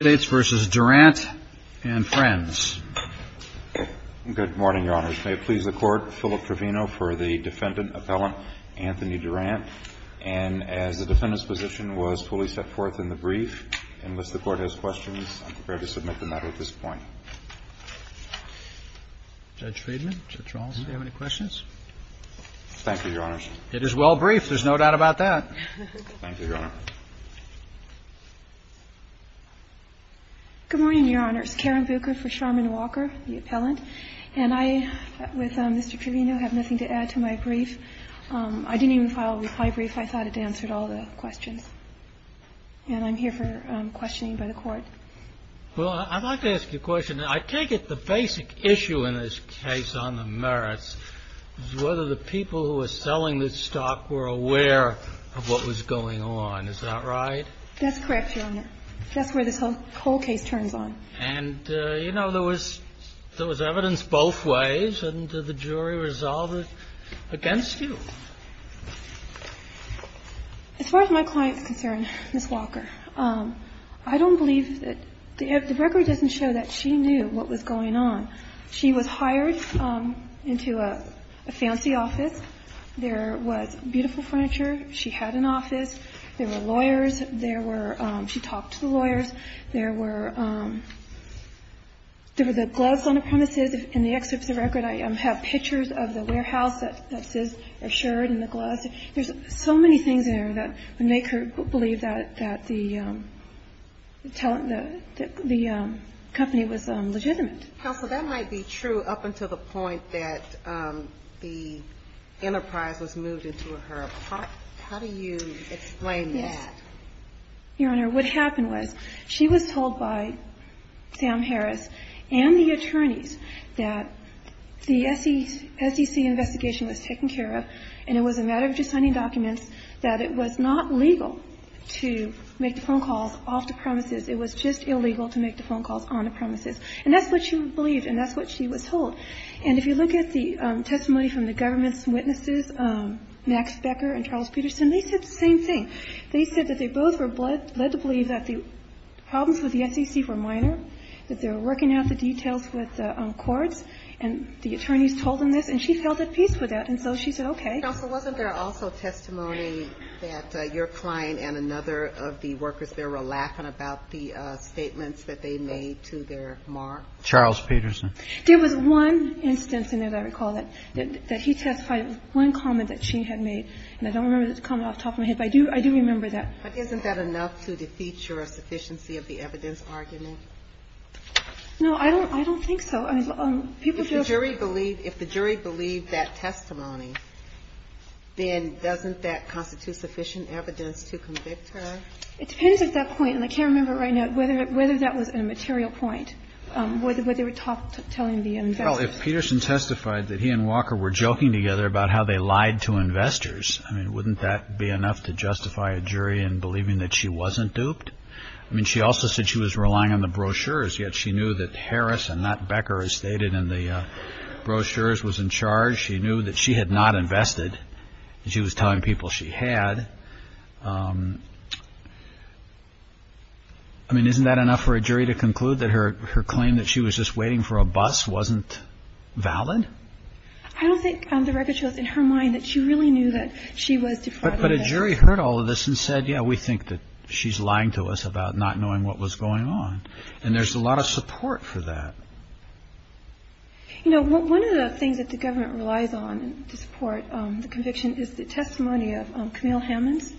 DURANT, AND FRIENDS. Good morning, Your Honors. May it please the Court, Philip Trevino for the Defendant Appellant Anthony Durant. And as the Defendant's position was fully set forth in the brief, unless the Court has questions, I'm prepared to submit the matter at this point. Judge Friedman, Judge Raulston, do you have any questions? Thank you, Your Honors. It is well briefed. There's no doubt about that. Thank you, Your Honor. Good morning, Your Honors. Karen Bucher for Charmaine Walker, the Appellant. And I, with Mr. Trevino, have nothing to add to my brief. I didn't even file a reply brief. I thought it answered all the questions. And I'm here for questioning by the Court. Well, I'd like to ask you a question. I take it the basic issue in this case on the merits is whether the people who were selling this stock were aware of what was going on. Is that right? That's correct, Your Honor. That's where this whole case turns on. And, you know, there was evidence both ways, and the jury resolved it against you. As far as my client is concerned, Ms. Walker, I don't believe that the record doesn't show that she knew what was going on. She was hired into a fancy office. There was beautiful furniture. She had an office. There were lawyers. There were – she talked to the lawyers. There were the gloves on the premises. In the excerpts of the record, I have pictures of the warehouse that says assured and the gloves. There's so many things in there that make her believe that the company was legitimate. Counsel, that might be true up until the point that the enterprise was moved into her apartment. How do you explain that? Yes. Well, let me tell you, Your Honor, what happened was she was told by Sam Harris and the attorneys that the SEC investigation was taken care of, and it was a matter of just signing documents, that it was not legal to make the phone calls off the premises. It was just illegal to make the phone calls on the premises. And that's what she believed, and that's what she was told. And if you look at the testimony from the government's witnesses, Max Becker and Charles Peterson, they said the same thing. They said that they both were led to believe that the problems with the SEC were minor, that they were working out the details with courts, and the attorneys told them this, and she felt at peace with that. And so she said, okay. Counsel, wasn't there also testimony that your client and another of the workers there were laughing about the statements that they made to their mark? Charles Peterson. There was one instance in there that I recall that he testified with one comment that she had made, and I don't remember the comment off the top of my head, but I do remember that. But isn't that enough to defeat your sufficiency of the evidence argument? No, I don't think so. If the jury believed that testimony, then doesn't that constitute sufficient evidence to convict her? It depends at that point, and I can't remember right now whether that was a material point, whether they were telling the investigators. Well, if Peterson testified that he and Walker were joking together about how they lied to investors, I mean, wouldn't that be enough to justify a jury in believing that she wasn't duped? I mean, she also said she was relying on the brochures, yet she knew that Harris and not Becker, as stated in the brochures, was in charge. She knew that she had not invested. She was telling people she had. I mean, isn't that enough for a jury to conclude that her claim that she was just waiting for a bus wasn't valid? I don't think the record shows in her mind that she really knew that she was depraved. But a jury heard all of this and said, yeah, we think that she's lying to us about not knowing what was going on. And there's a lot of support for that. You know, one of the things that the government relies on to support the conviction is the testimony of Camille Hammonds,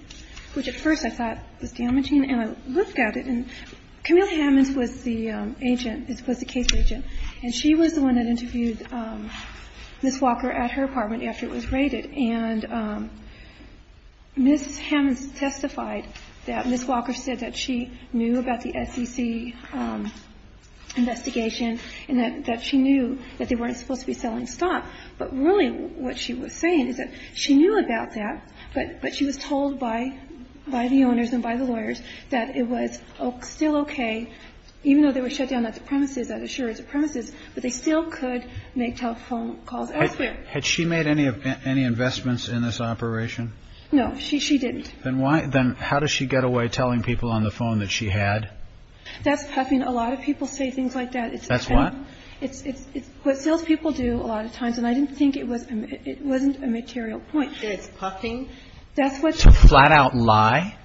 which at first I thought was damaging. And I looked at it, and Camille Hammonds was the agent, was the case agent. And she was the one that interviewed Ms. Walker at her apartment after it was raided. And Ms. Hammonds testified that Ms. Walker said that she knew about the SEC investigation and that she knew that they weren't supposed to be selling stock. But really what she was saying is that she knew about that, but she was told by the owners and by the lawyers that it was still okay, even though they were shut down at the premises that assured the premises, but they still could make telephone calls elsewhere. Had she made any investments in this operation? No. She didn't. Then how does she get away telling people on the phone that she had? That's puffing. A lot of people say things like that. That's what? It's what salespeople do a lot of times. And I didn't think it wasn't a material point. That it's puffing? That's what's. It's a flat-out lie?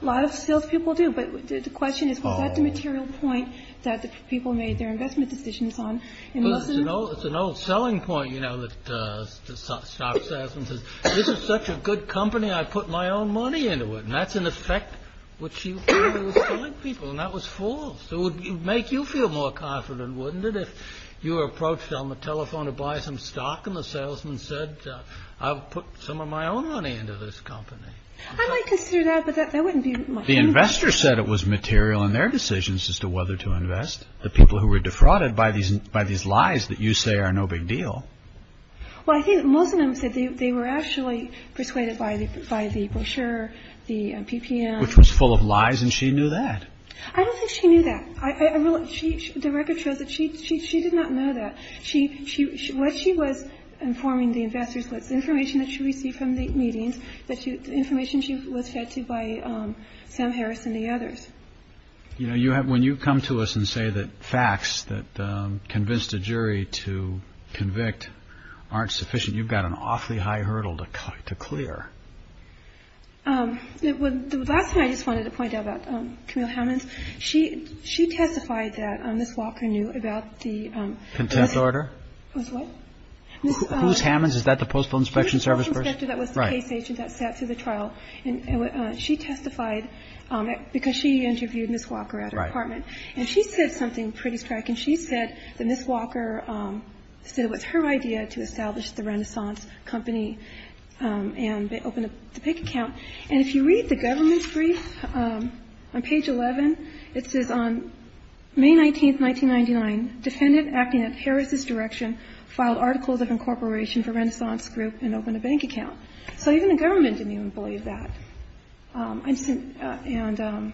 A lot of salespeople do. But the question is, was that the material point that the people made their investment decisions on? It's an old selling point, you know, that the stock salesman says, this is such a good company, I put my own money into it. And that's an effect which you do with selling people. And that was false. It would make you feel more confident, wouldn't it, if you were approached on the telephone to buy some stock and the salesman said, I'll put some of my own money into this company? I might consider that, but that wouldn't be my point. The investor said it was material in their decisions as to whether to invest. The people who were defrauded by these lies that you say are no big deal. Well, I think most of them said they were actually persuaded by the brochure, the PPM. Which was full of lies, and she knew that. I don't think she knew that. The record shows that she did not know that. What she was informing the investors was information that she received from the meetings, information she was fed to by Sam Harris and the others. You know, when you come to us and say that facts that convinced a jury to convict aren't sufficient, you've got an awfully high hurdle to clear. The last thing I just wanted to point out about Camille Hammonds, she testified that Ms. Walker knew about the... Contempt order? What? Who's Hammonds? Is that the Postal Inspection Service? The Postal Inspector that was the case agent that sat through the trial, and she testified because she interviewed Ms. Walker at her apartment. And she said something pretty striking. She said that Ms. Walker said it was her idea to establish the Renaissance Company and open a bank account. And if you read the government's brief on page 11, it says, On May 19, 1999, defendant acting at Harris's direction filed articles of incorporation for Renaissance Group and opened a bank account. So even the government didn't even believe that. I just didn't. And...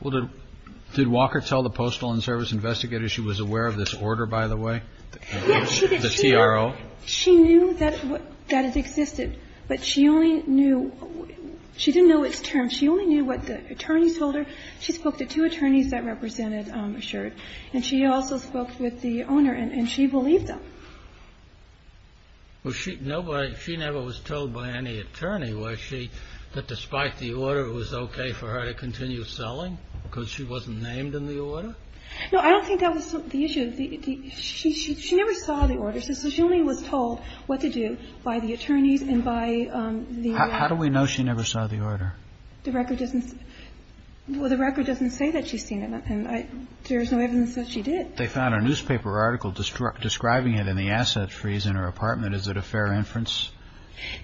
Well, did Walker tell the Postal and Service Investigator she was aware of this order, by the way? Yes, she did. The TRO? She knew that it existed, but she only knew – she didn't know its terms. She only knew what the attorneys told her. She spoke to two attorneys that represented Assured, and she also spoke with the owner, and she believed them. Was she – nobody – she never was told by any attorney, was she, that despite the order it was okay for her to continue selling because she wasn't named in the order? No, I don't think that was the issue. She never saw the order, so she only was told what to do by the attorneys and by the... How do we know she never saw the order? The record doesn't – well, the record doesn't say that she's seen it. And I – there's no evidence that she did. They found a newspaper article describing it in the asset freeze in her apartment. Is it a fair inference?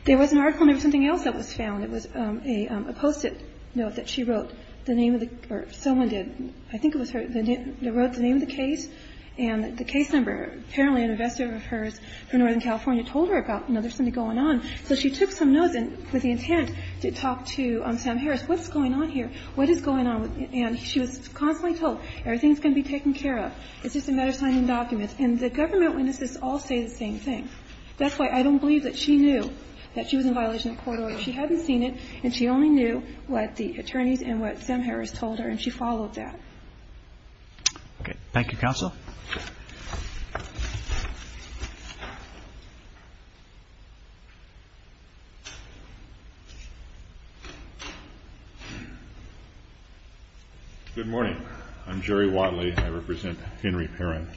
There was an article, and there was something else that was found. It was a Post-it note that she wrote the name of the – or someone did. I think it was her that wrote the name of the case, and the case number. Apparently, an investor of hers from Northern California told her about, you know, there's something going on. So she took some notes with the intent to talk to Sam Harris. What's going on here? What is going on? And she was constantly told, everything's going to be taken care of. It's just a matter of signing documents. And the government witnesses all say the same thing. That's why I don't believe that she knew that she was in violation of court order. She hadn't seen it, and she only knew what the attorneys and what Sam Harris told her, and she followed that. Okay. Thank you, counsel. Good morning. I'm Jerry Watley, and I represent Henry Perrin.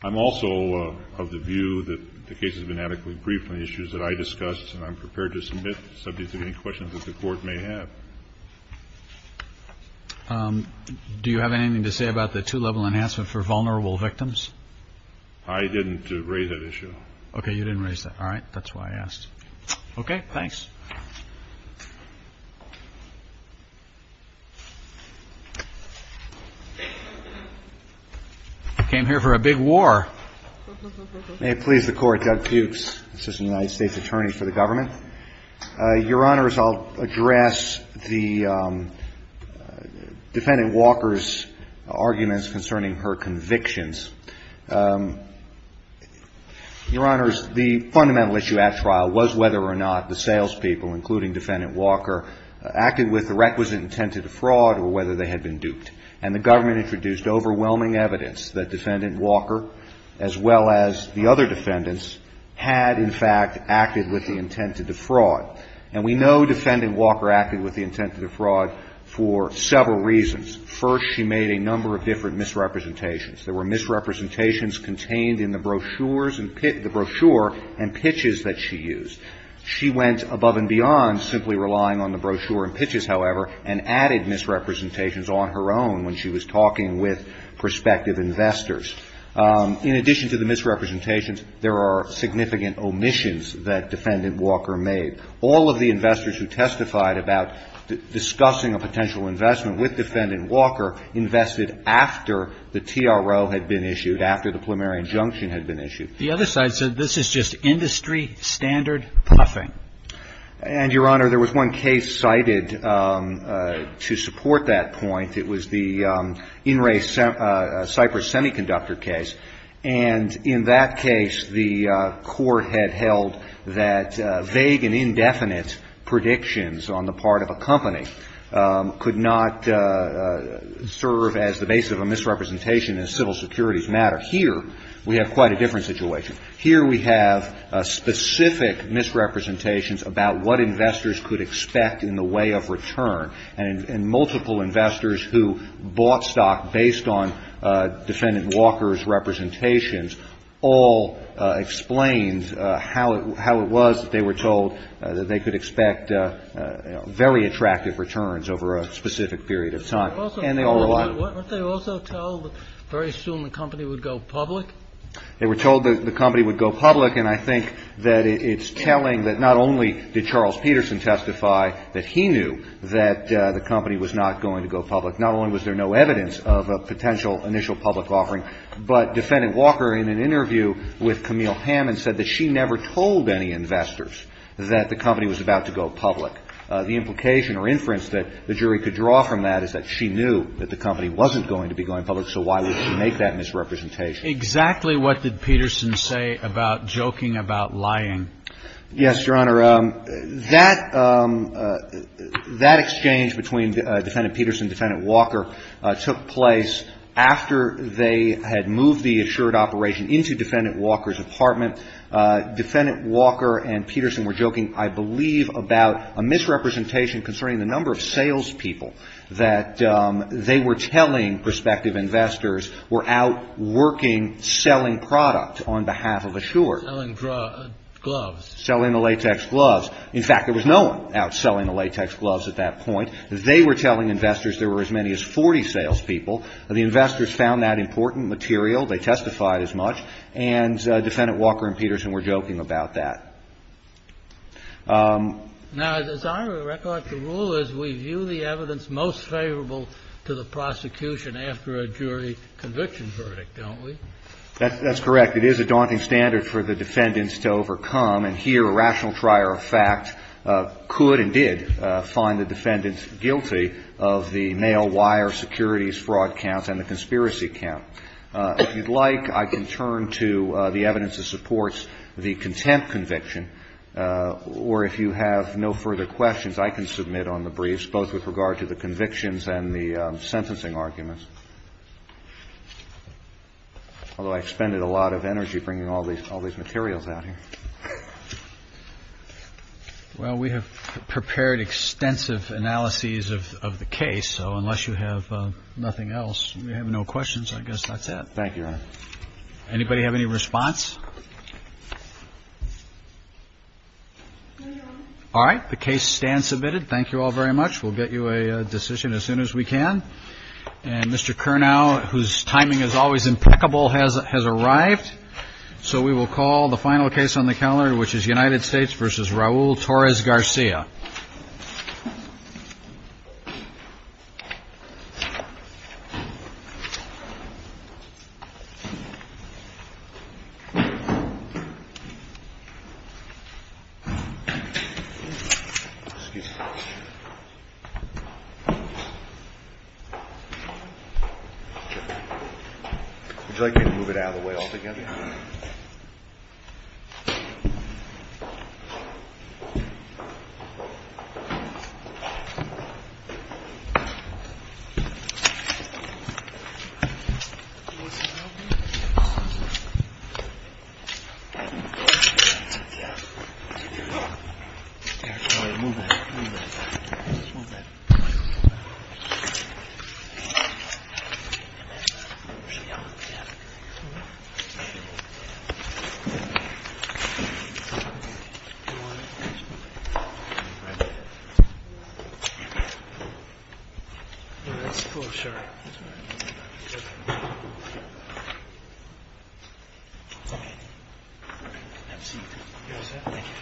I'm also of the view that the case has been adequately briefed on the issues that I discussed, and I'm prepared to submit subjects of any questions that the Court may have. Do you have anything to say about the two-level enhancement for vulnerable victims? I didn't raise that issue. Okay. You didn't raise that. All right. That's why I asked. Okay. Thanks. I came here for a big war. May it please the Court, Judge Pukes, Assistant United States Attorney for the Government. Your Honors, I'll address the Defendant Walker's arguments concerning her convictions. Your Honors, the fundamental issue at trial was whether or not the salespeople, including Defendant Walker, acted with the requisite intent to defraud or whether they had been duped. And the government introduced overwhelming evidence that Defendant Walker, as well as the other defendants, had, in fact, acted with the intent to defraud. And we know Defendant Walker acted with the intent to defraud for several reasons. First, she made a number of different misrepresentations. There were misrepresentations contained in the brochures and pitches that she used. She went above and beyond simply relying on the brochure and pitches, however, and added misrepresentations on her own when she was talking with prospective investors. In addition to the misrepresentations, there are significant omissions that Defendant Walker made. All of the investors who testified about discussing a potential investment with Defendant Walker invested after the TRO had been issued, after the plumerian junction had been issued. The other side said this is just industry standard puffing. And, Your Honor, there was one case cited to support that point. It was the In Re Cypress Semiconductor case. And in that case, the court had held that vague and indefinite predictions on the part of a company could not serve as the base of a misrepresentation in a civil securities matter. Here we have quite a different situation. Here we have specific misrepresentations about what investors could expect in the way of return. And multiple investors who bought stock based on Defendant Walker's representations all explained how it was that they were told that they could expect very attractive returns over a specific period of time. And they all lied. Weren't they also told that very soon the company would go public? They were told that the company would go public. And I think that it's telling that not only did Charles Peterson testify that he knew that the company was not going to go public. Not only was there no evidence of a potential initial public offering, but Defendant Walker, in an interview with Camille Hammond, said that she never told any investors that the company was about to go public. The implication or inference that the jury could draw from that is that she knew that the company wasn't going to be going public, so why would she make that misrepresentation? Exactly what did Peterson say about joking about lying? Yes, Your Honor. That exchange between Defendant Peterson and Defendant Walker took place after they had moved the assured operation into Defendant Walker's apartment. Defendant Walker and Peterson were joking, I believe, about a misrepresentation concerning the number of salespeople that they were telling prospective investors were out working selling product on behalf of assured. Selling gloves. Selling the latex gloves. In fact, there was no one out selling the latex gloves at that point. They were telling investors there were as many as 40 salespeople. The investors found that important material. They testified as much. And Defendant Walker and Peterson were joking about that. Now, as our record to rule is, we view the evidence most favorable to the prosecution after a jury conviction verdict, don't we? That's correct. It is a daunting standard for the defendants to overcome. And here, a rational trier of fact could and did find the defendants guilty of the male wire securities fraud counts and the conspiracy count. If you'd like, I can turn to the evidence that supports the contempt conviction. Or if you have no further questions, I can submit on the briefs, both with regard to the convictions and the sentencing arguments. Although I expended a lot of energy bringing all these materials out here. Well, we have prepared extensive analyses of the case. So unless you have nothing else, you have no questions. I guess that's it. Thank you. Anybody have any response? All right. The case stands submitted. Thank you all very much. We'll get you a decision as soon as we can. And Mr. Curnow, whose timing is always impeccable, has has arrived. So we will call the final case on the calendar, which is United States versus Raul Torres Garcia. Excuse me. Would you like me to move it out of the way altogether? Yeah. Yeah. Yeah. Oh, yeah. Move it. Oh, sure. Thank you. Absolutely. Yes. Thank you. Thank you. Thank you.